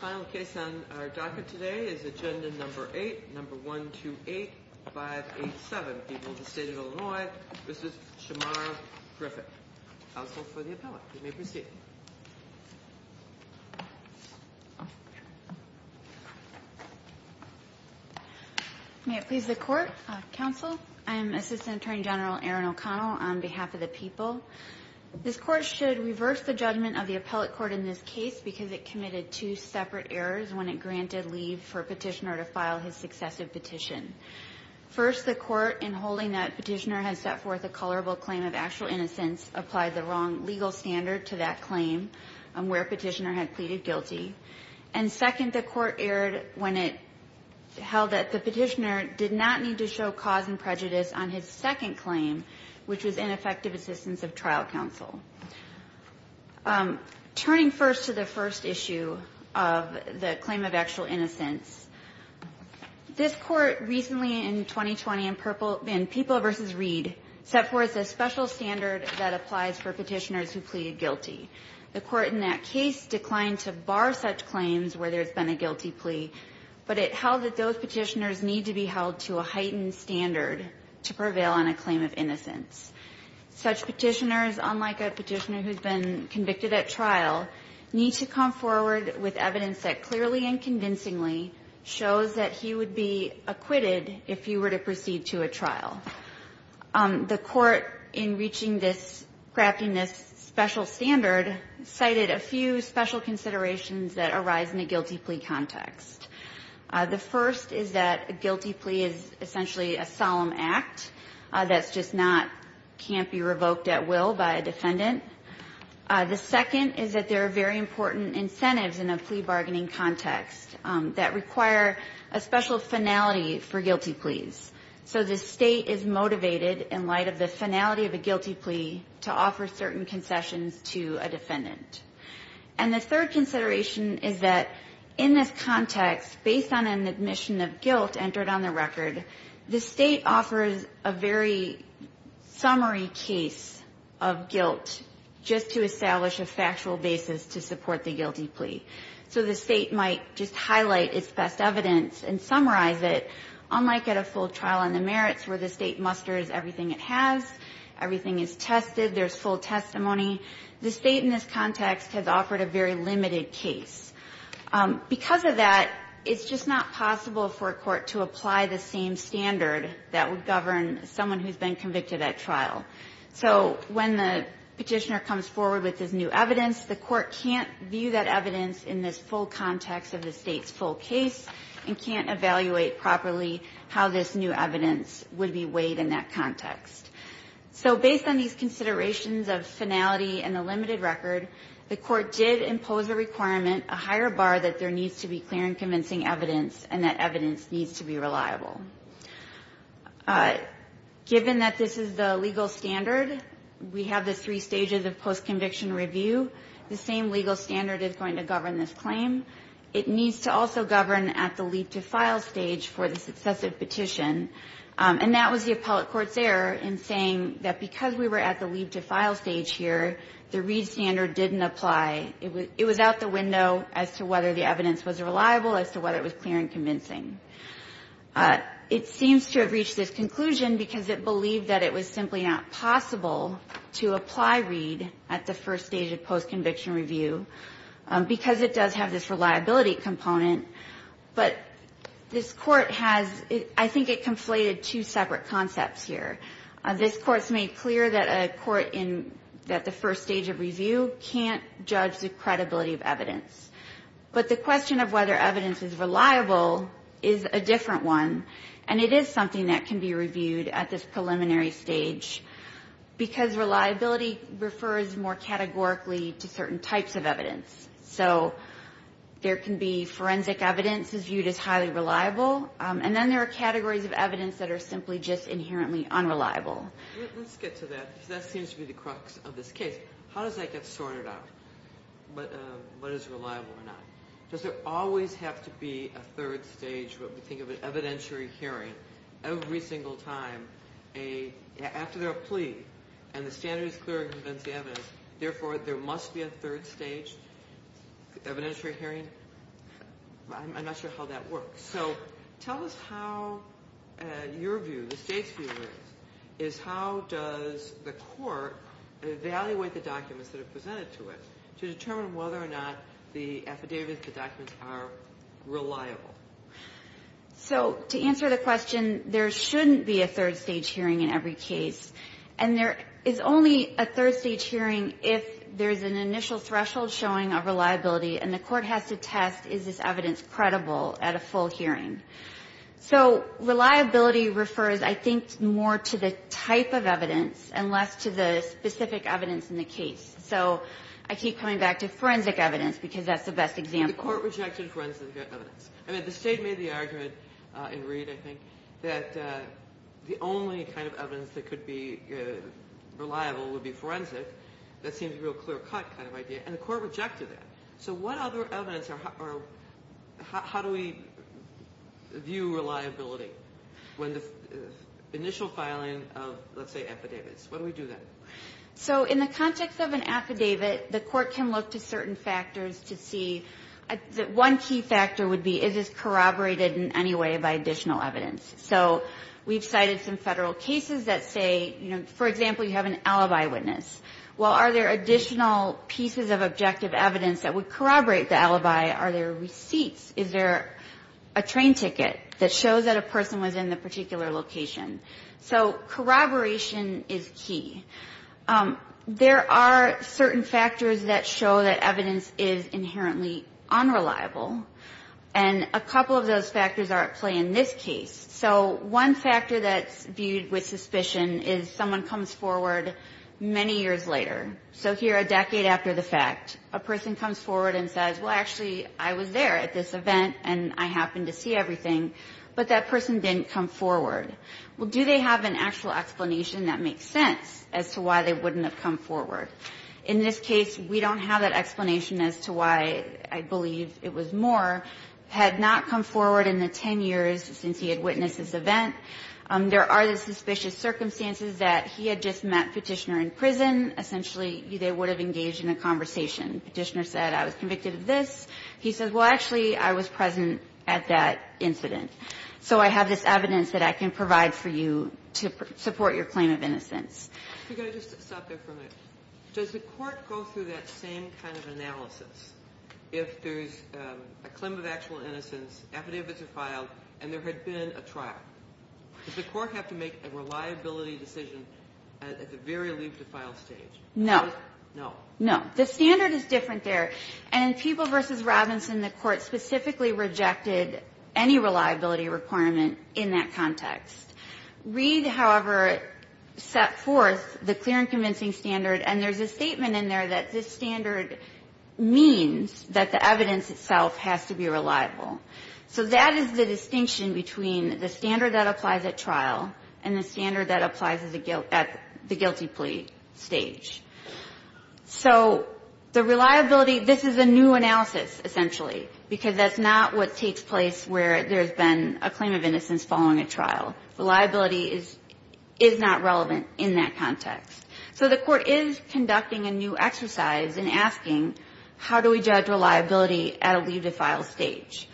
Final case on our docket today is agenda number 8, number 128587, People of the State of Illinois v. Shemar Griffin. Counsel for the appellate. You may proceed. May it please the court. Counsel, I am Assistant Attorney General Erin O'Connell on behalf of the people. This court should reverse the judgment of the appellate court in this case because it committed two separate errors when it granted leave for a petitioner to file his successive petition. First, the court, in holding that petitioner had set forth a colorable claim of actual innocence, applied the wrong legal standard to that claim where petitioner had pleaded guilty. And second, the court erred when it held that the petitioner did not need to show cause and prejudice on his second claim, which was ineffective assistance of trial counsel. Turning first to the first issue of the claim of actual innocence, this court recently in 2020 in People v. Reed set forth a special standard that applies for petitioners who pleaded guilty. The court in that case declined to bar such claims where there's been a guilty plea, but it held that those petitioners need to be held to a heightened standard to prevail on a claim of innocence. Such petitioners, unlike a petitioner who's been convicted at trial, need to come forward with evidence that clearly and convincingly shows that he would be acquitted if he were to proceed to a trial. The court, in reaching this, crafting this special standard, cited a few special considerations that arise in a guilty plea context. The first is that a guilty plea is essentially a solemn act that's just not, can't be revoked at will by a defendant. The second is that there are very important incentives in a plea bargaining context that require a special finality for guilty pleas. So the state is motivated in light of the finality of a guilty plea to offer certain concessions to a defendant. And the third consideration is that in this context, based on an admission of guilt entered on the record, the state offers a very summary case of guilt just to establish a factual basis to support the guilty plea. So the state might just highlight its best evidence and summarize it, unlike at a full trial on the merits where the state musters everything it has, everything is tested, there's full testimony. The state in this context has offered a very limited case. Because of that, it's just not possible for a court to apply the same standard that would govern someone who's been convicted at trial. So when the Petitioner comes forward with this new evidence, the court can't view that evidence in this full context of the state's full case and can't evaluate properly how this new evidence would be weighed in that context. So based on these considerations of finality and the limited record, the court did impose a requirement, a higher bar that there needs to be clear and convincing evidence and that evidence needs to be reliable. Given that this is the legal standard, we have the three stages of post-conviction review. The same legal standard is going to govern this claim. It needs to also govern at the leap to file stage for the successive petition. And that was the appellate court's error in saying that because we were at the leap to file stage here, the Reed standard didn't apply. It was out the window as to whether the evidence was reliable, as to whether it was clear and convincing. It seems to have reached this conclusion because it believed that it was simply not possible to apply Reed at the first stage of post-conviction review because it does have this reliability component. But this Court has – I think it conflated two separate concepts here. This Court's made clear that a court in – at the first stage of review can't judge the credibility of evidence. But the question of whether evidence is reliable is a different one, and it is something that can be reviewed at this preliminary stage because reliability refers more categorically to certain types of evidence. So there can be forensic evidence is viewed as highly reliable, and then there are categories of evidence that are simply just inherently unreliable. Let's get to that because that seems to be the crux of this case. How does that get sorted out, what is reliable or not? Does it always have to be a third stage, what we think of an evidentiary hearing, every single time after they're a plea and the standard is clear and convincing evidence, therefore there must be a third stage evidentiary hearing? I'm not sure how that works. So tell us how your view, the State's view is, is how does the Court evaluate the documents that are presented to it to determine whether or not the affidavits, the documents are reliable? So to answer the question, there shouldn't be a third stage hearing in every case. And there is only a third stage hearing if there is an initial threshold showing of reliability and the Court has to test is this evidence credible at a full hearing. So reliability refers, I think, more to the type of evidence and less to the specific evidence in the case. So I keep coming back to forensic evidence because that's the best example. The Court rejected forensic evidence. I mean, the State made the argument in Reed, I think, that the only kind of evidence that could be reliable would be forensic. That seems a real clear-cut kind of idea. And the Court rejected that. So what other evidence or how do we view reliability when the initial filing of, let's say, affidavits? What do we do then? So in the context of an affidavit, the Court can look to certain factors to see. One key factor would be is this corroborated in any way by additional evidence? So we've cited some Federal cases that say, for example, you have an alibi witness. Well, are there additional pieces of objective evidence that would corroborate the alibi? Are there receipts? Is there a train ticket that shows that a person was in the particular location? So corroboration is key. There are certain factors that show that evidence is inherently unreliable. And a couple of those factors are at play in this case. So one factor that's viewed with suspicion is someone comes forward many years later. So here, a decade after the fact, a person comes forward and says, well, actually, I was there at this event, and I happened to see everything. But that person didn't come forward. Well, do they have an actual explanation that makes sense as to why they wouldn't have come forward? In this case, we don't have that explanation as to why I believe it was Moore had not come forward in the 10 years since he had witnessed this event. There are the suspicious circumstances that he had just met Petitioner in prison. Essentially, they would have engaged in a conversation. Petitioner said, I was convicted of this. He says, well, actually, I was present at that incident. So I have this evidence that I can provide for you to support your claim of innocence. We've got to just stop there for a minute. Does the Court go through that same kind of analysis if there's a claim of actual innocence, affidavits are filed, and there had been a trial? Does the Court have to make a reliability decision at the very leave to file stage? No. No. No. The standard is different there. And in Peeble v. Robinson, the Court specifically rejected any reliability requirement in that context. Reed, however, set forth the clear and convincing standard, and there's a statement in there that this standard means that the evidence itself has to be reliable. So that is the distinction between the standard that applies at trial and the standard that applies at the guilty plea stage. So the reliability, this is a new analysis, essentially, because that's not what reliability is, is not relevant in that context. So the Court is conducting a new exercise in asking, how do we judge reliability at a leave to file stage?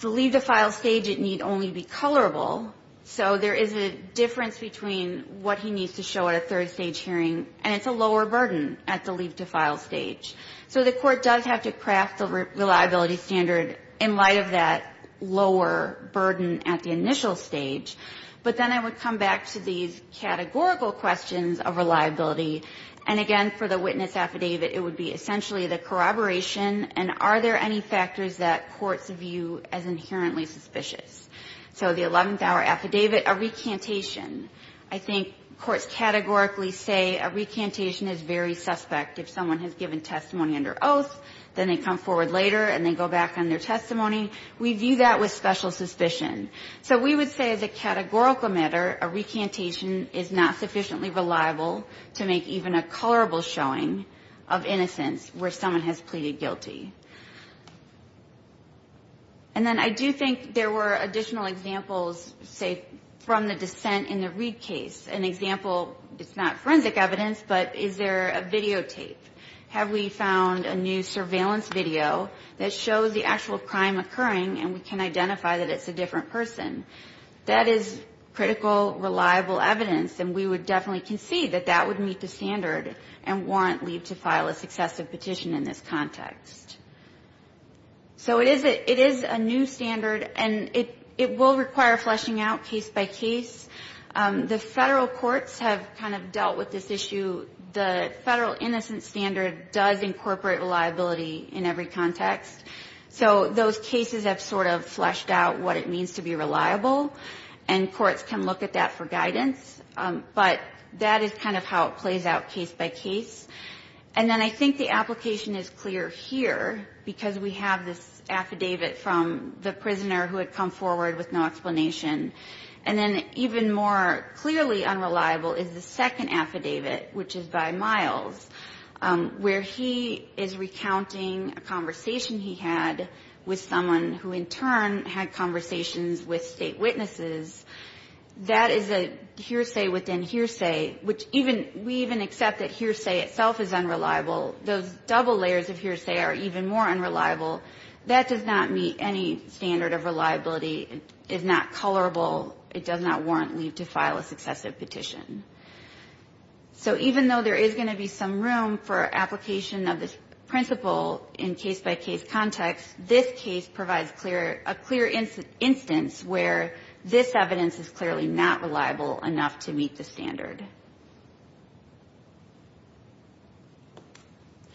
The leave to file stage, it need only be colorable. So there is a difference between what he needs to show at a third stage hearing, and it's a lower burden at the leave to file stage. So the Court does have to craft the reliability standard in light of that lower burden at the initial stage. But then I would come back to these categorical questions of reliability. And again, for the witness affidavit, it would be essentially the corroboration and are there any factors that courts view as inherently suspicious. So the 11th-hour affidavit, a recantation. I think courts categorically say a recantation is very suspect. If someone has given testimony under oath, then they come forward later and they go back on their testimony. We view that with special suspicion. So we would say as a categorical matter, a recantation is not sufficiently reliable to make even a colorable showing of innocence where someone has pleaded guilty. And then I do think there were additional examples, say, from the dissent in the Reid case. An example, it's not forensic evidence, but is there a videotape? Have we found a new surveillance video that shows the actual crime occurring and we can identify that it's a different person? That is critical, reliable evidence, and we would definitely concede that that would meet the standard and warrant Lee to file a successive petition in this context. So it is a new standard, and it will require fleshing out case by case. The federal courts have kind of dealt with this issue. The federal innocence standard does incorporate reliability in every context. So those cases have sort of fleshed out what it means to be reliable, and courts can look at that for guidance. But that is kind of how it plays out case by case. And then I think the application is clear here because we have this affidavit from the prisoner who had come forward with no explanation. And then even more clearly unreliable is the second affidavit, which is by Miles, where he is recounting a conversation he had with someone who in turn had conversations with state witnesses. That is a hearsay within hearsay, which even we even accept that hearsay itself is unreliable. Those double layers of hearsay are even more unreliable. That does not meet any standard of reliability. It is not colorable. It does not warrant leave to file a successive petition. So even though there is going to be some room for application of this principle in case-by-case context, this case provides a clear instance where this evidence is clearly not reliable enough to meet the standard. Go ahead.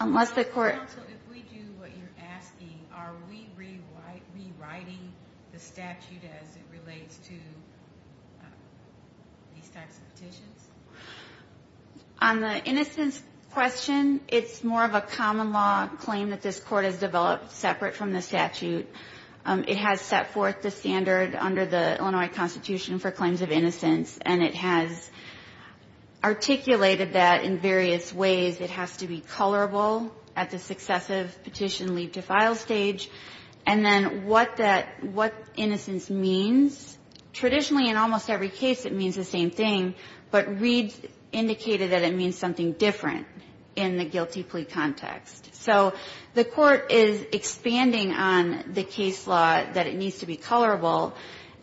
Unless the court… Counsel, if we do what you are asking, are we rewriting the statute as it relates to these types of petitions? On the innocence question, it is more of a common law claim that this court has developed separate from the statute. It has set forth the standard under the Illinois Constitution for claims of innocence and it has articulated that in various ways. It has to be colorable at the successive petition leave to file stage. And then what that – what innocence means, traditionally in almost every case it means the same thing, but Reed's indicated that it means something different in the guilty plea context. So the court is expanding on the case law that it needs to be colorable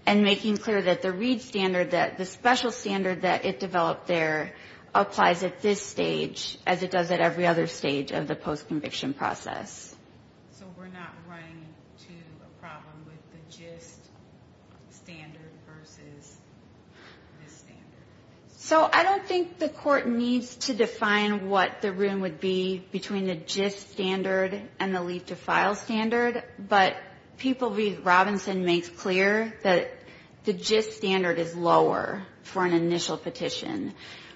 and making clear that the Reed standard, that the special standard that it developed there applies at this stage as it does at every other stage of the post-conviction process. So we are not running to a problem with the gist standard versus this standard? So I don't think the court needs to define what the room would be between the gist standard and the leave to file standard, but people read Robinson makes clear that the gist standard is lower for an initial petition.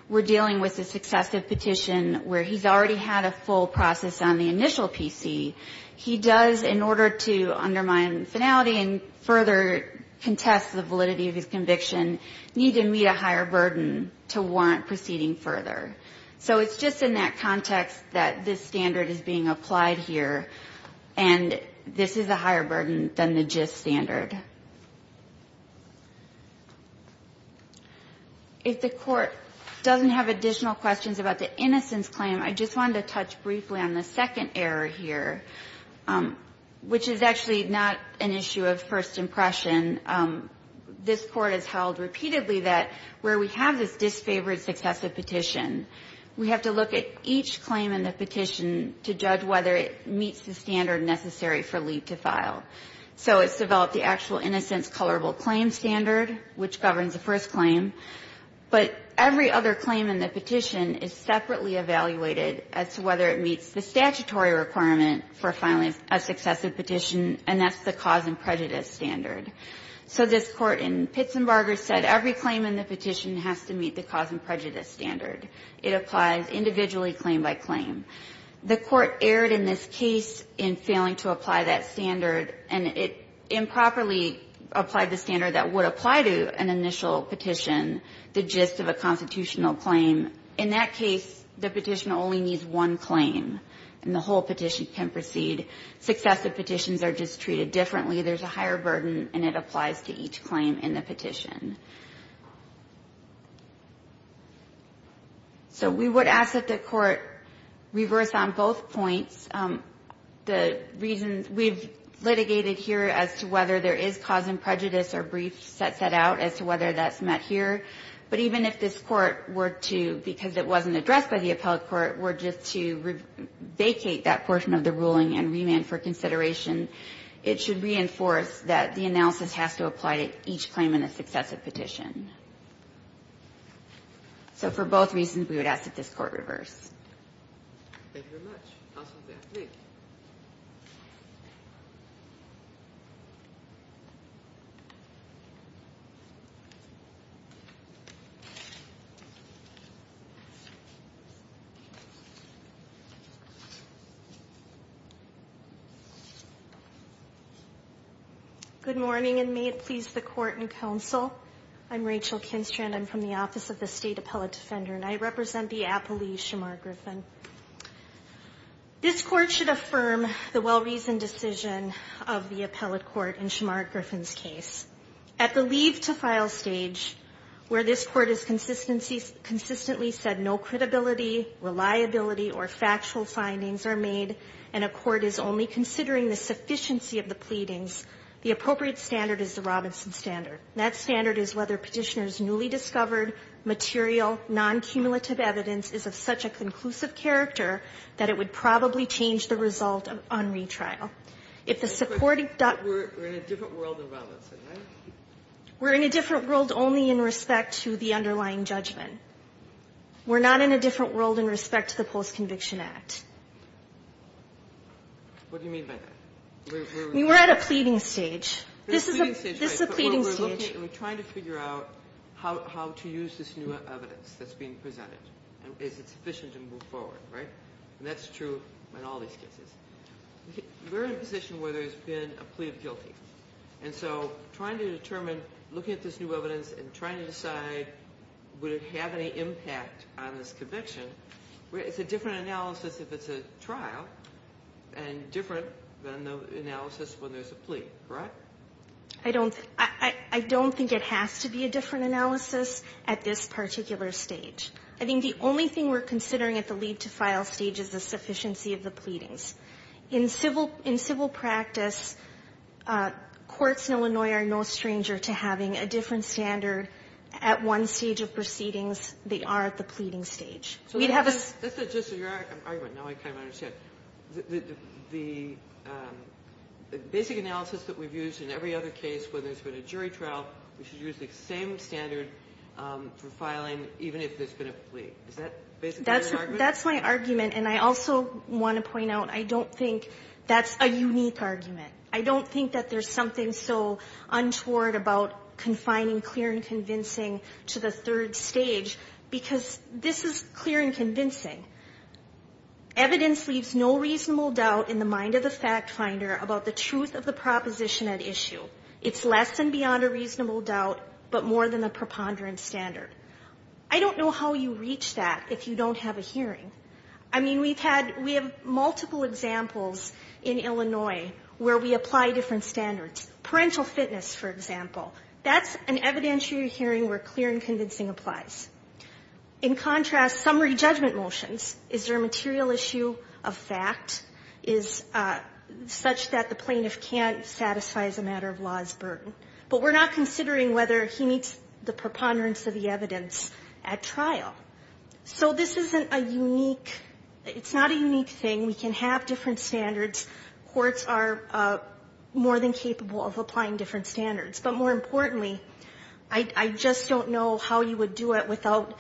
We're dealing with a successive petition where he's already had a full process on the initial PC. He does, in order to undermine finality and further contest the validity of his conviction, need to meet a higher burden to warrant proceeding further. So it's just in that context that this standard is being applied here, and this is a higher burden than the gist standard. If the court doesn't have additional questions about the innocence claim, I just wanted to touch briefly on the second error here, which is actually not an issue of first impression. This court has held repeatedly that where we have this disfavored successive petition, we have to look at each claim in the petition to judge whether it meets the standard necessary for leave to file. So it's developed the actual innocence colorable claim standard, which governs the first claim. But every other claim in the petition is separately evaluated as to whether it meets the statutory requirement for filing a successive petition, and that's the cause and prejudice standard. So this Court in Pitzenbarger said every claim in the petition has to meet the cause and prejudice standard. It applies individually, claim by claim. The Court erred in this case in failing to apply that standard, and it improperly applied the standard that would apply to an initial petition, the gist of a constitutional claim. In that case, the petition only needs one claim, and the whole petition can proceed. Successive petitions are just treated differently. There's a higher burden, and it applies to each claim in the petition. So we would ask that the Court reverse on both points the reasons we've litigated here as to whether there is cause and prejudice or brief set out as to whether that's met here. But even if this Court were to, because it wasn't addressed by the appellate court, were just to vacate that portion of the ruling and remand for consideration, it should reinforce that the analysis has to apply to each claim in a successive petition. So for both reasons, we would ask that this Court reverse. Thank you very much. Good morning, and may it please the Court and Council. I'm Rachel Kinstrand. I'm from the Office of the State Appellate Defender, and I represent the appellee, Shamar Griffin. This Court should affirm the well-reasoned decision of the appellate court in Shamar Griffin's case. At the leave-to-file stage, where this Court has consistently said no credibility, reliability, or factual findings are made, and a court is only considering the sufficiency of the pleadings, the appropriate standard is the Robinson standard. That standard is whether Petitioner's newly discovered, material, non-cumulative evidence is of such a conclusive character that it would probably change the result on retrial. If the supporting dot We're in a different world in Robinson, right? We're in a different world only in respect to the underlying judgment. We're not in a different world in respect to the Post-Conviction Act. What do you mean by that? We're at a pleading stage. This is a pleading stage. We're trying to figure out how to use this new evidence that's being presented. Is it sufficient to move forward, right? And that's true in all these cases. We're in a position where there's been a plea of guilty. And so trying to determine, looking at this new evidence and trying to decide would it have any impact on this conviction, it's a different analysis if it's a trial, and different than the analysis when there's a plea, correct? I don't think it has to be a different analysis at this particular stage. I think the only thing we're considering at the lead-to-file stage is the sufficiency of the pleadings. In civil practice, courts in Illinois are no stranger to having a different standard at one stage of proceedings. They are at the pleading stage. We'd have a So that's just your argument. Now I kind of understand. The basic analysis that we've used in every other case, whether it's been a jury trial, we should use the same standard for filing even if there's been a plea. Is that basically your argument? That's my argument. And I also want to point out I don't think that's a unique argument. I don't think that there's something so untoward about confining clear and convincing to the third stage because this is clear and convincing. Evidence leaves no reasonable doubt in the mind of the fact finder about the truth of the proposition at issue. It's less than beyond a reasonable doubt but more than a preponderant standard. I don't know how you reach that if you don't have a hearing. I mean, we have multiple examples in Illinois where we apply different standards. Parental fitness, for example. That's an evidentiary hearing where clear and convincing applies. In contrast, summary judgment motions. Is there a material issue of fact such that the plaintiff can't satisfy as a matter of law's burden? But we're not considering whether he meets the preponderance of the evidence at trial. So this isn't a unique, it's not a unique thing. We can have different standards. Courts are more than capable of applying different standards. But more importantly, I just don't know how you would do it without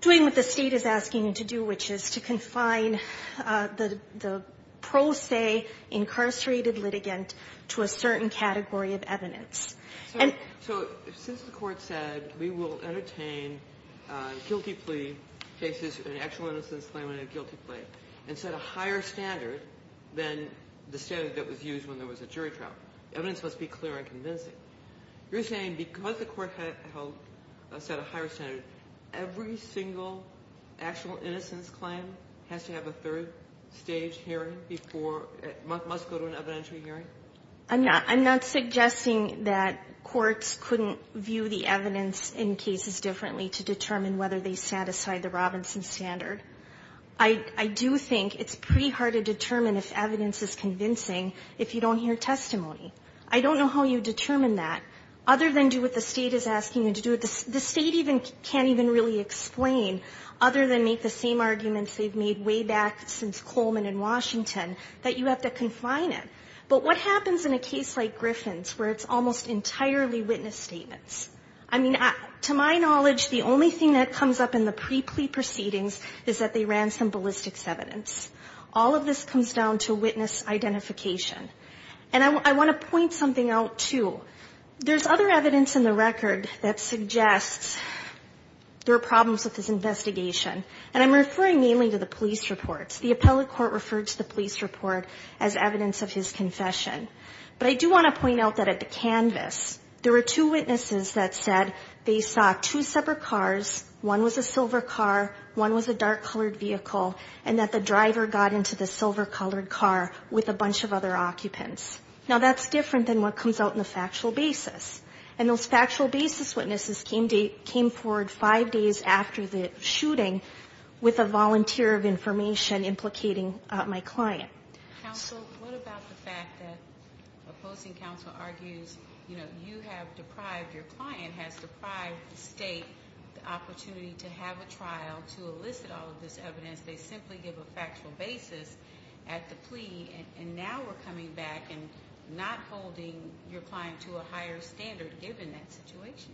doing what the state is asking you to do, which is to confine the pro se incarcerated litigant to a certain category of evidence. And so since the court said we will entertain guilty plea cases, an actual innocence claim in a guilty plea, and set a higher standard than the standard that was used when there was a jury trial. Evidence must be clear and convincing. You're saying because the court had a higher standard, every single actual innocence claim has to have a third stage hearing before it must go to an evidentiary hearing? I'm not suggesting that courts couldn't view the evidence in cases differently to determine whether they satisfy the Robinson standard. I do think it's pretty hard to determine if evidence is convincing if you don't hear testimony. I don't know how you determine that, other than do what the state is asking you to do. The state can't even really explain, other than make the same arguments they've made way back since Coleman in Washington, that you have to confine it. But what happens in a case like Griffin's, where it's almost entirely witness statements? I mean, to my knowledge, the only thing that comes up in the pre-plea proceedings is that they ran some ballistics evidence. All of this comes down to witness identification. And I want to point something out, too. There's other evidence in the record that suggests there are problems with this investigation. And I'm referring mainly to the police reports. The appellate court referred to the police report as evidence of his confession. But I do want to point out that at the canvas, there were two witnesses that said they saw two separate cars. One was a silver car. One was a dark-colored vehicle. And that the driver got into the silver-colored car with a bunch of other occupants. Now, that's different than what comes out in the factual basis. And those factual basis witnesses came forward five days after the shooting with a volunteer of information implicating my client. Counsel, what about the fact that opposing counsel argues, you know, you have deprived, your client has deprived the state the opportunity to have a trial to simply give a factual basis at the plea, and now we're coming back and not holding your client to a higher standard given that situation?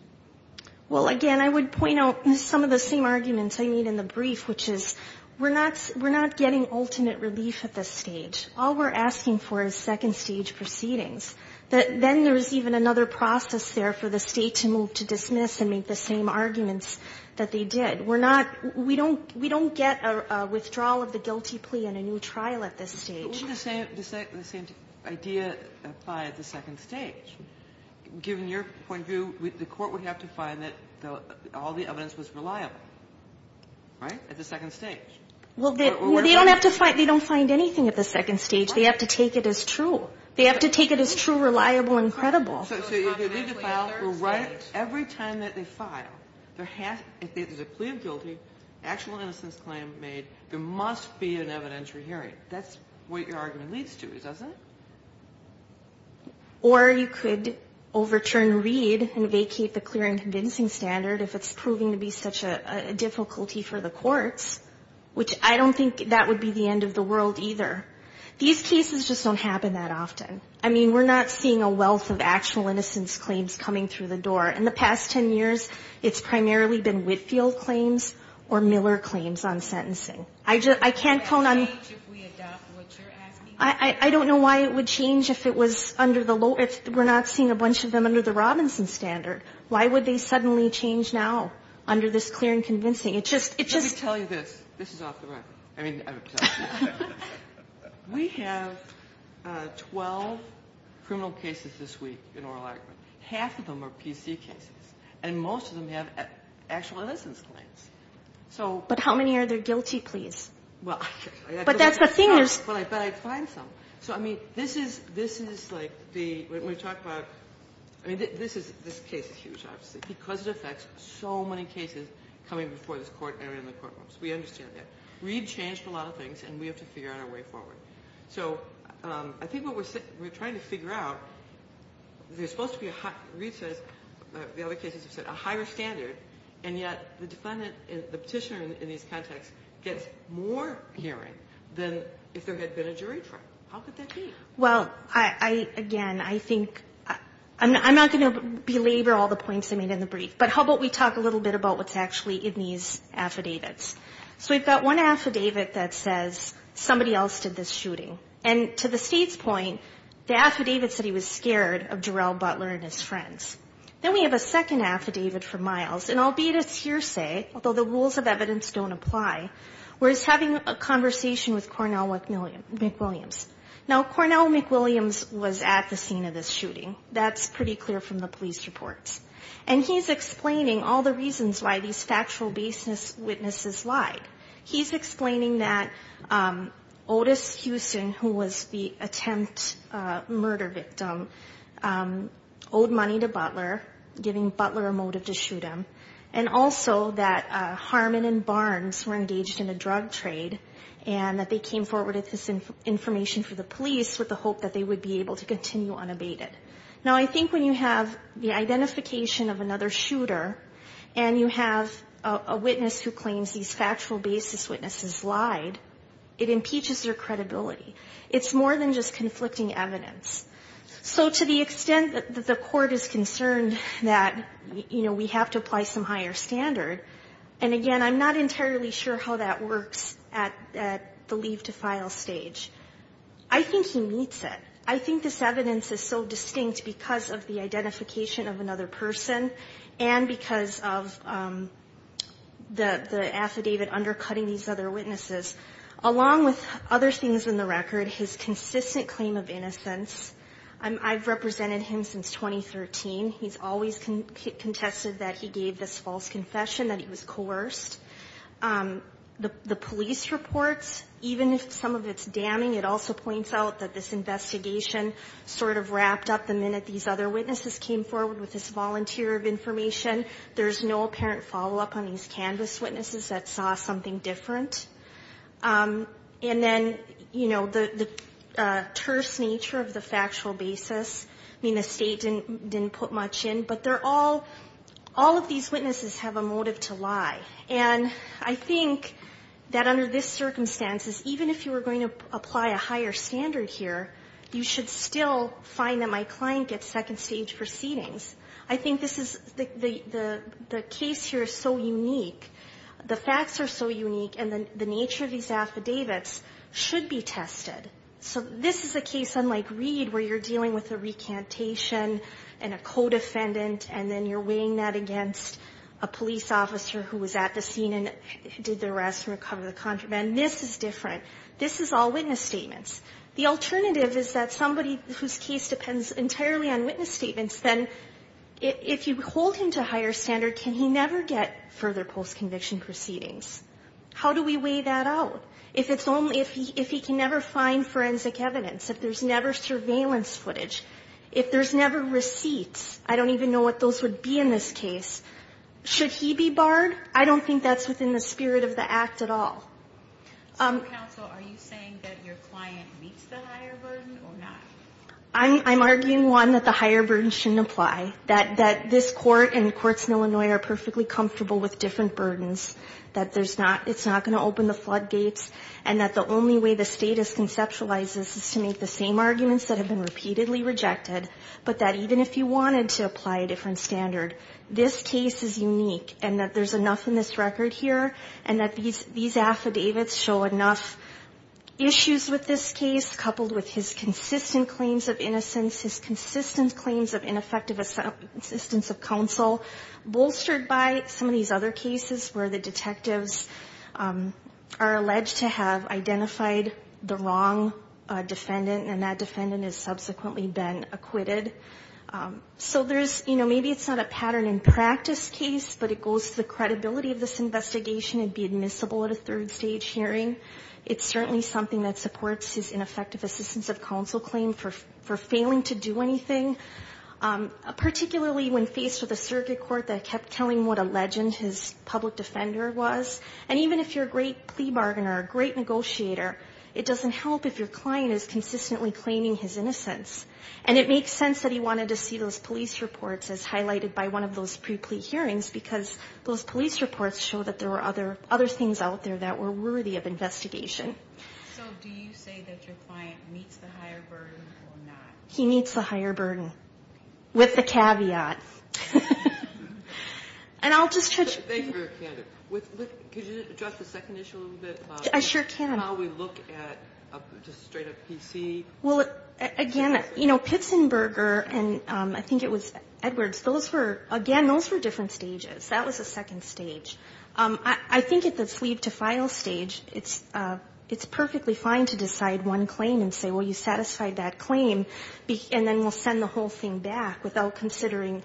Well, again, I would point out some of the same arguments I made in the brief, which is we're not getting ultimate relief at this stage. All we're asking for is second-stage proceedings. Then there's even another process there for the state to move to dismiss and make the same arguments that they did. We're not, we don't get a withdrawal of the guilty plea and a new trial at this stage. But wouldn't the same idea apply at the second stage? Given your point of view, the Court would have to find that all the evidence was reliable, right, at the second stage. Well, they don't have to find, they don't find anything at the second stage. They have to take it as true. They have to take it as true, reliable, and credible. So if they did the file, right, every time that they file, if there's a plea of guilty, actual innocence claim made, there must be an evidentiary hearing. That's what your argument leads to, doesn't it? Or you could overturn Reed and vacate the clear and convincing standard if it's proving to be such a difficulty for the courts, which I don't think that would be the end of the world either. These cases just don't happen that often. I mean, we're not seeing a wealth of actual innocence claims coming through the door. In the past 10 years, it's primarily been Whitfield claims or Miller claims on sentencing. I can't count on you. I don't know why it would change if it was under the low, if we're not seeing a bunch of them under the Robinson standard. Why would they suddenly change now under this clear and convincing? It just, it just. Let me tell you this. This is off the record. I mean, we have 12 criminal cases this week in oral argument. Half of them are PC cases. And most of them have actual innocence claims. So. But how many are there guilty pleas? Well. But that's the thing is. But I find some. So, I mean, this is, this is like the, when we talk about, I mean, this is, this case is huge, obviously, because it affects so many cases coming before this court and in the courtrooms. We understand that. Reid changed a lot of things, and we have to figure out a way forward. So, I think what we're trying to figure out, there's supposed to be a, Reid says, the other cases have said, a higher standard, and yet the defendant, the petitioner in these contexts, gets more hearing than if there had been a jury trial. How could that be? Well, I, again, I think, I'm not going to belabor all the points I made in the brief, but how about we talk a little bit about what's actually in these affidavits. So, we've got one affidavit that says somebody else did this shooting. And to the State's point, the affidavit said he was scared of Jarrell Butler and his friends. Then we have a second affidavit from Miles, and albeit it's hearsay, although the rules of evidence don't apply, where he's having a conversation with Cornell McWilliams. Now, Cornell McWilliams was at the scene of this shooting. That's pretty clear from the police reports. And he's explaining all the reasons why these factual basis witnesses lied. He's explaining that Otis Houston, who was the attempt murder victim, owed money to Butler, giving Butler a motive to shoot him, and also that Harmon and Barnes were engaged in a drug trade, and that they came forward with this information for the police with the hope that they would be able to continue unabated. Now, I think when you have the identification of another shooter, and you have a witness who claims these factual basis witnesses lied, it impeaches their credibility. It's more than just conflicting evidence. So, to the extent that the Court is concerned that, you know, we have to apply some higher standard, and again, I'm not entirely sure how that works at the leave to file stage, I think he meets it. I think this evidence is so distinct because of the identification of another person and because of the affidavit undercutting these other witnesses, along with other things in the record, his consistent claim of innocence. I've represented him since 2013. He's always contested that he gave this false confession, that he was coerced. The police reports, even if some of it's damning, it also points out that this investigation sort of wrapped up the minute these other witnesses came forward with this volunteer of information. There's no apparent follow-up on these canvas witnesses that saw something different. And then, you know, the terse nature of the factual basis, I mean, the State didn't put much in, but they're all, all of these witnesses have a motive to lie. And I think that under these circumstances, even if you were going to apply a higher standard here, you should still find that my client gets second stage proceedings. I think this is, the case here is so unique. The facts are so unique, and the nature of these affidavits should be tested. So this is a case, unlike Reed, where you're dealing with a recantation and a co-defendant, and then you're weighing that against a police officer who was at the scene and did the arrest and recovered the contraband. This is different. This is all witness statements. The alternative is that somebody whose case depends entirely on witness statements, then if you hold him to a higher standard, can he never get further post-conviction proceedings? How do we weigh that out? If it's only, if he can never find forensic evidence, if there's never surveillance footage, if there's never receipts? I don't even know what those would be in this case. Should he be barred? I don't think that's within the spirit of the act at all. So counsel, are you saying that your client meets the higher burden or not? I'm arguing, one, that the higher burden shouldn't apply. That this Court and the courts in Illinois are perfectly comfortable with different burdens. That there's not, it's not going to open the floodgates. And that the only way the State has conceptualized this is to make the same arguments that have been repeatedly rejected, but that even if you wanted to apply a different standard, this case is unique. And that there's enough in this record here, and that these affidavits show enough issues with this case, coupled with his consistent claims of innocence, his consistent claims of ineffective assistance of counsel, bolstered by some of these other cases where the detectives are alleged to have a wrong defendant, and that defendant has subsequently been acquitted. So there's, you know, maybe it's not a pattern in practice case, but it goes to the credibility of this investigation and be admissible at a third stage hearing. It's certainly something that supports his ineffective assistance of counsel claim for failing to do anything, particularly when faced with a circuit court that kept telling what a legend his public defender was. And even if you're a great plea bargainer, a great negotiator, it doesn't help if your client is consistently claiming his innocence. And it makes sense that he wanted to see those police reports as highlighted by one of those pre-plea hearings, because those police reports show that there were other things out there that were worthy of investigation. So do you say that your client meets the higher burden or not? He meets the higher burden, with the caveat. And I'll just touch... Could you address the second issue a little bit? I sure can. And how we look at, just straight up PC... Well, again, you know, Pitsenberger and I think it was Edwards, those were, again, those were different stages. That was the second stage. I think at the sleeve-to-file stage, it's perfectly fine to decide one claim and say, well, you satisfied that claim, and then we'll send the whole thing back without considering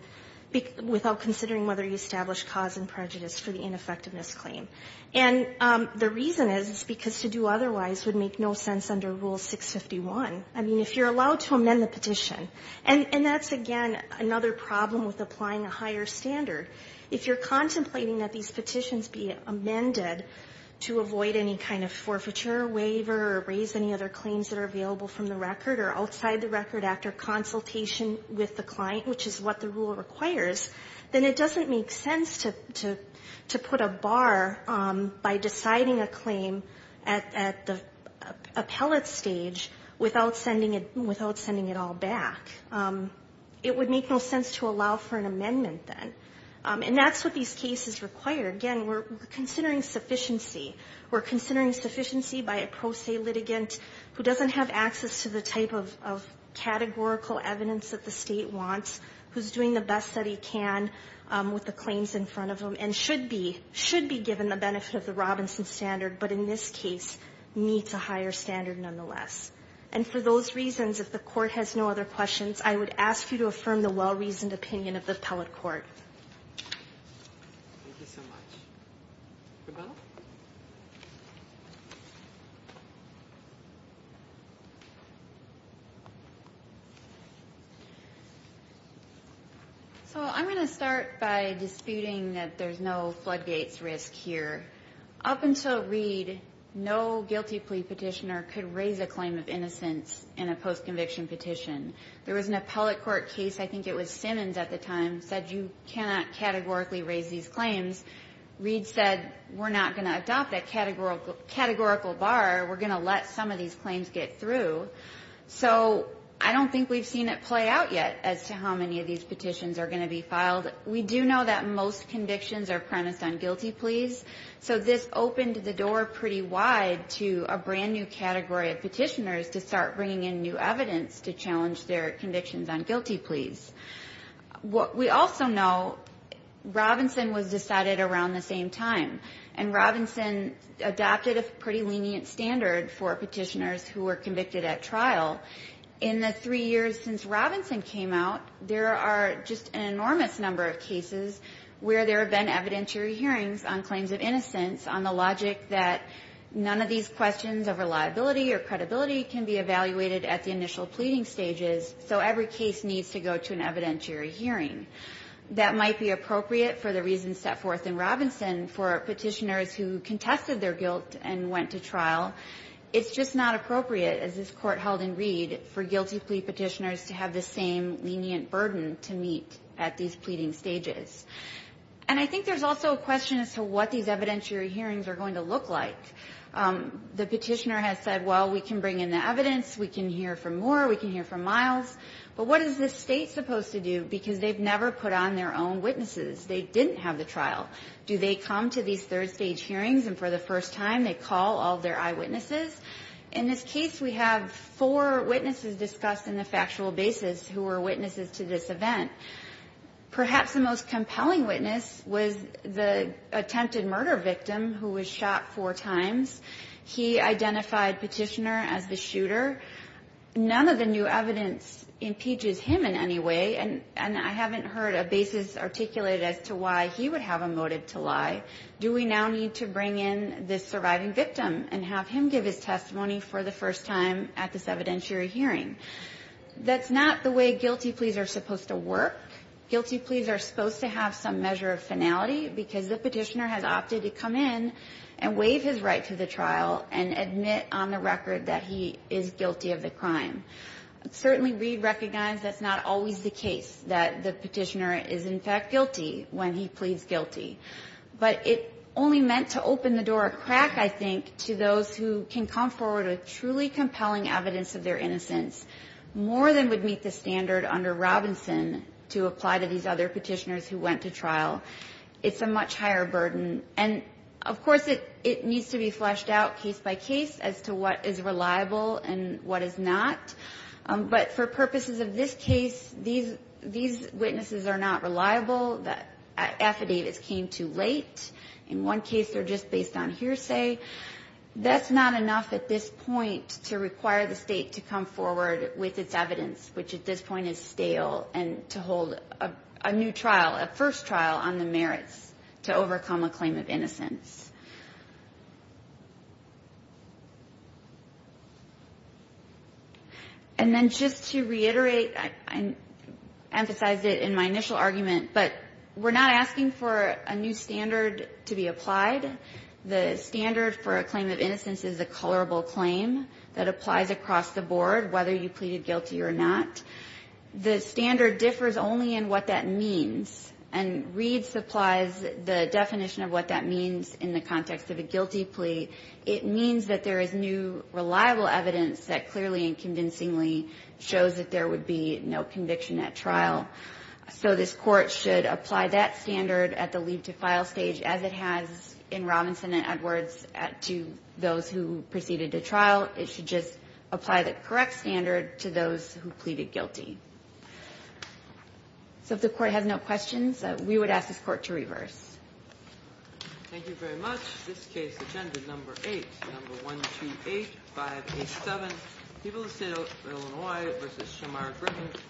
whether you established cause and prejudice for the ineffectiveness claim. And the reason is, it's because to do otherwise would make no sense under Rule 651. I mean, if you're allowed to amend the petition, and that's, again, another problem with applying a higher standard. If you're contemplating that these petitions be amended to avoid any kind of forfeiture waiver or raise any other claims that are available from the record or outside the record after consultation with the client, which is what the rule requires, then it doesn't make sense to put a bar by deciding a claim at the appellate stage without sending it all back. It would make no sense to allow for an amendment, then. And that's what these cases require. Again, we're considering sufficiency. We're considering access to the type of categorical evidence that the State wants, who's doing the best that he can with the claims in front of him, and should be, should be given the benefit of the Robinson standard, but in this case needs a higher standard nonetheless. And for those reasons, if the Court has no other questions, I would ask you to affirm the well-reasoned opinion of the appellate court. So I'm going to start by disputing that there's no floodgates risk here. Up until Reed, no guilty plea petitioner could raise a claim of innocence in a post-conviction petition. There was an appellate court case, I think it was Simmons at the time, said you cannot categorically raise these claims. Reed said, we're not going to adopt that categorical bar. We're going to let some of these claims get through. So I don't think we've seen it play out yet as to how many of these petitions are going to be filed. We do know that most convictions are premised on guilty pleas. So this opened the door pretty wide to a brand new category of petitioners to start bringing in new evidence to challenge their convictions on guilty pleas. We also know Robinson was decided around the same time. And Robinson adopted a pretty lenient standard for petitioners who were convicted at trial. In the three years since Robinson came out, there are just an enormous number of cases where there have been evidentiary hearings on claims of innocence on the logic that none of these questions over liability or credibility can be evaluated at the initial pleading stages. So every case needs to go to an evidentiary hearing. That might be appropriate for the reasons set forth in Robinson for petitioners who contested their guilt and went to trial. It's just not appropriate, as this Court held in Reed, for guilty plea petitioners to have the same lenient burden to meet at these pleading stages. And I think there's also a question as to what these evidentiary hearings are going to look like. The petitioner has said, well, we can bring in the evidence, we can hear from Moore, we can hear from Miles. But what is this State supposed to do? Because they've never put on their own witnesses. They didn't have the trial. Do they come to these third-stage hearings and for the first time they call all their eyewitnesses? In this case, we have four witnesses discussed in the factual basis who were witnesses to this event. Perhaps the most compelling witness was the attempted murder victim who was shot four times. He identified Petitioner as the shooter. None of the new evidence impeaches him in any way, and I haven't heard a basis articulated as to why he would have a motive to lie. Do we now need to bring in this surviving victim and have him give his testimony for the first time at this evidentiary hearing? That's not the way guilty pleas are supposed to work. Guilty pleas are supposed to have some measure of finality because the Petitioner has opted to come in and waive his right to the trial and admit on the record that he is guilty of the crime. Certainly, Reed recognized that's not always the case, that the Petitioner is, in fact, guilty when he pleads guilty. But it only meant to open the door a crack, I think, to those who can come forward with truly compelling evidence of their innocence more than would meet the standard under Robinson to apply to these other Petitioners who went to trial. It's a much higher burden. And, of course, it needs to be fleshed out case by case as to what is reliable and what is not. But for purposes of this case, these witnesses are not reliable. The affidavits came too late. In one case, they're just based on hearsay. That's not enough at this point to require the State to come forward with its evidence, which at this point is stale, and to hold a new trial, a first trial on the merits to overcome a claim of innocence. And then just to reiterate, I emphasized it in my initial argument, but we're not asking for a new standard to be applied. The standard for a claim of innocence is a colorable claim that applies across the board, whether you pleaded guilty or not. The standard differs only in what that means. And Reed supplies the definition of what that means in the context of a guilty plea. It means that there is new reliable evidence that clearly and convincingly shows that there would be no conviction at trial. So this Court should apply that standard at the lead-to-file stage as it has in Robinson and Edwards to those who proceeded to trial. It should just apply the correct standard to those who pleaded guilty. So if the Court has no questions, we would ask this Court to reverse. Thank you very much. This case, Agenda No.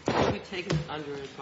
8.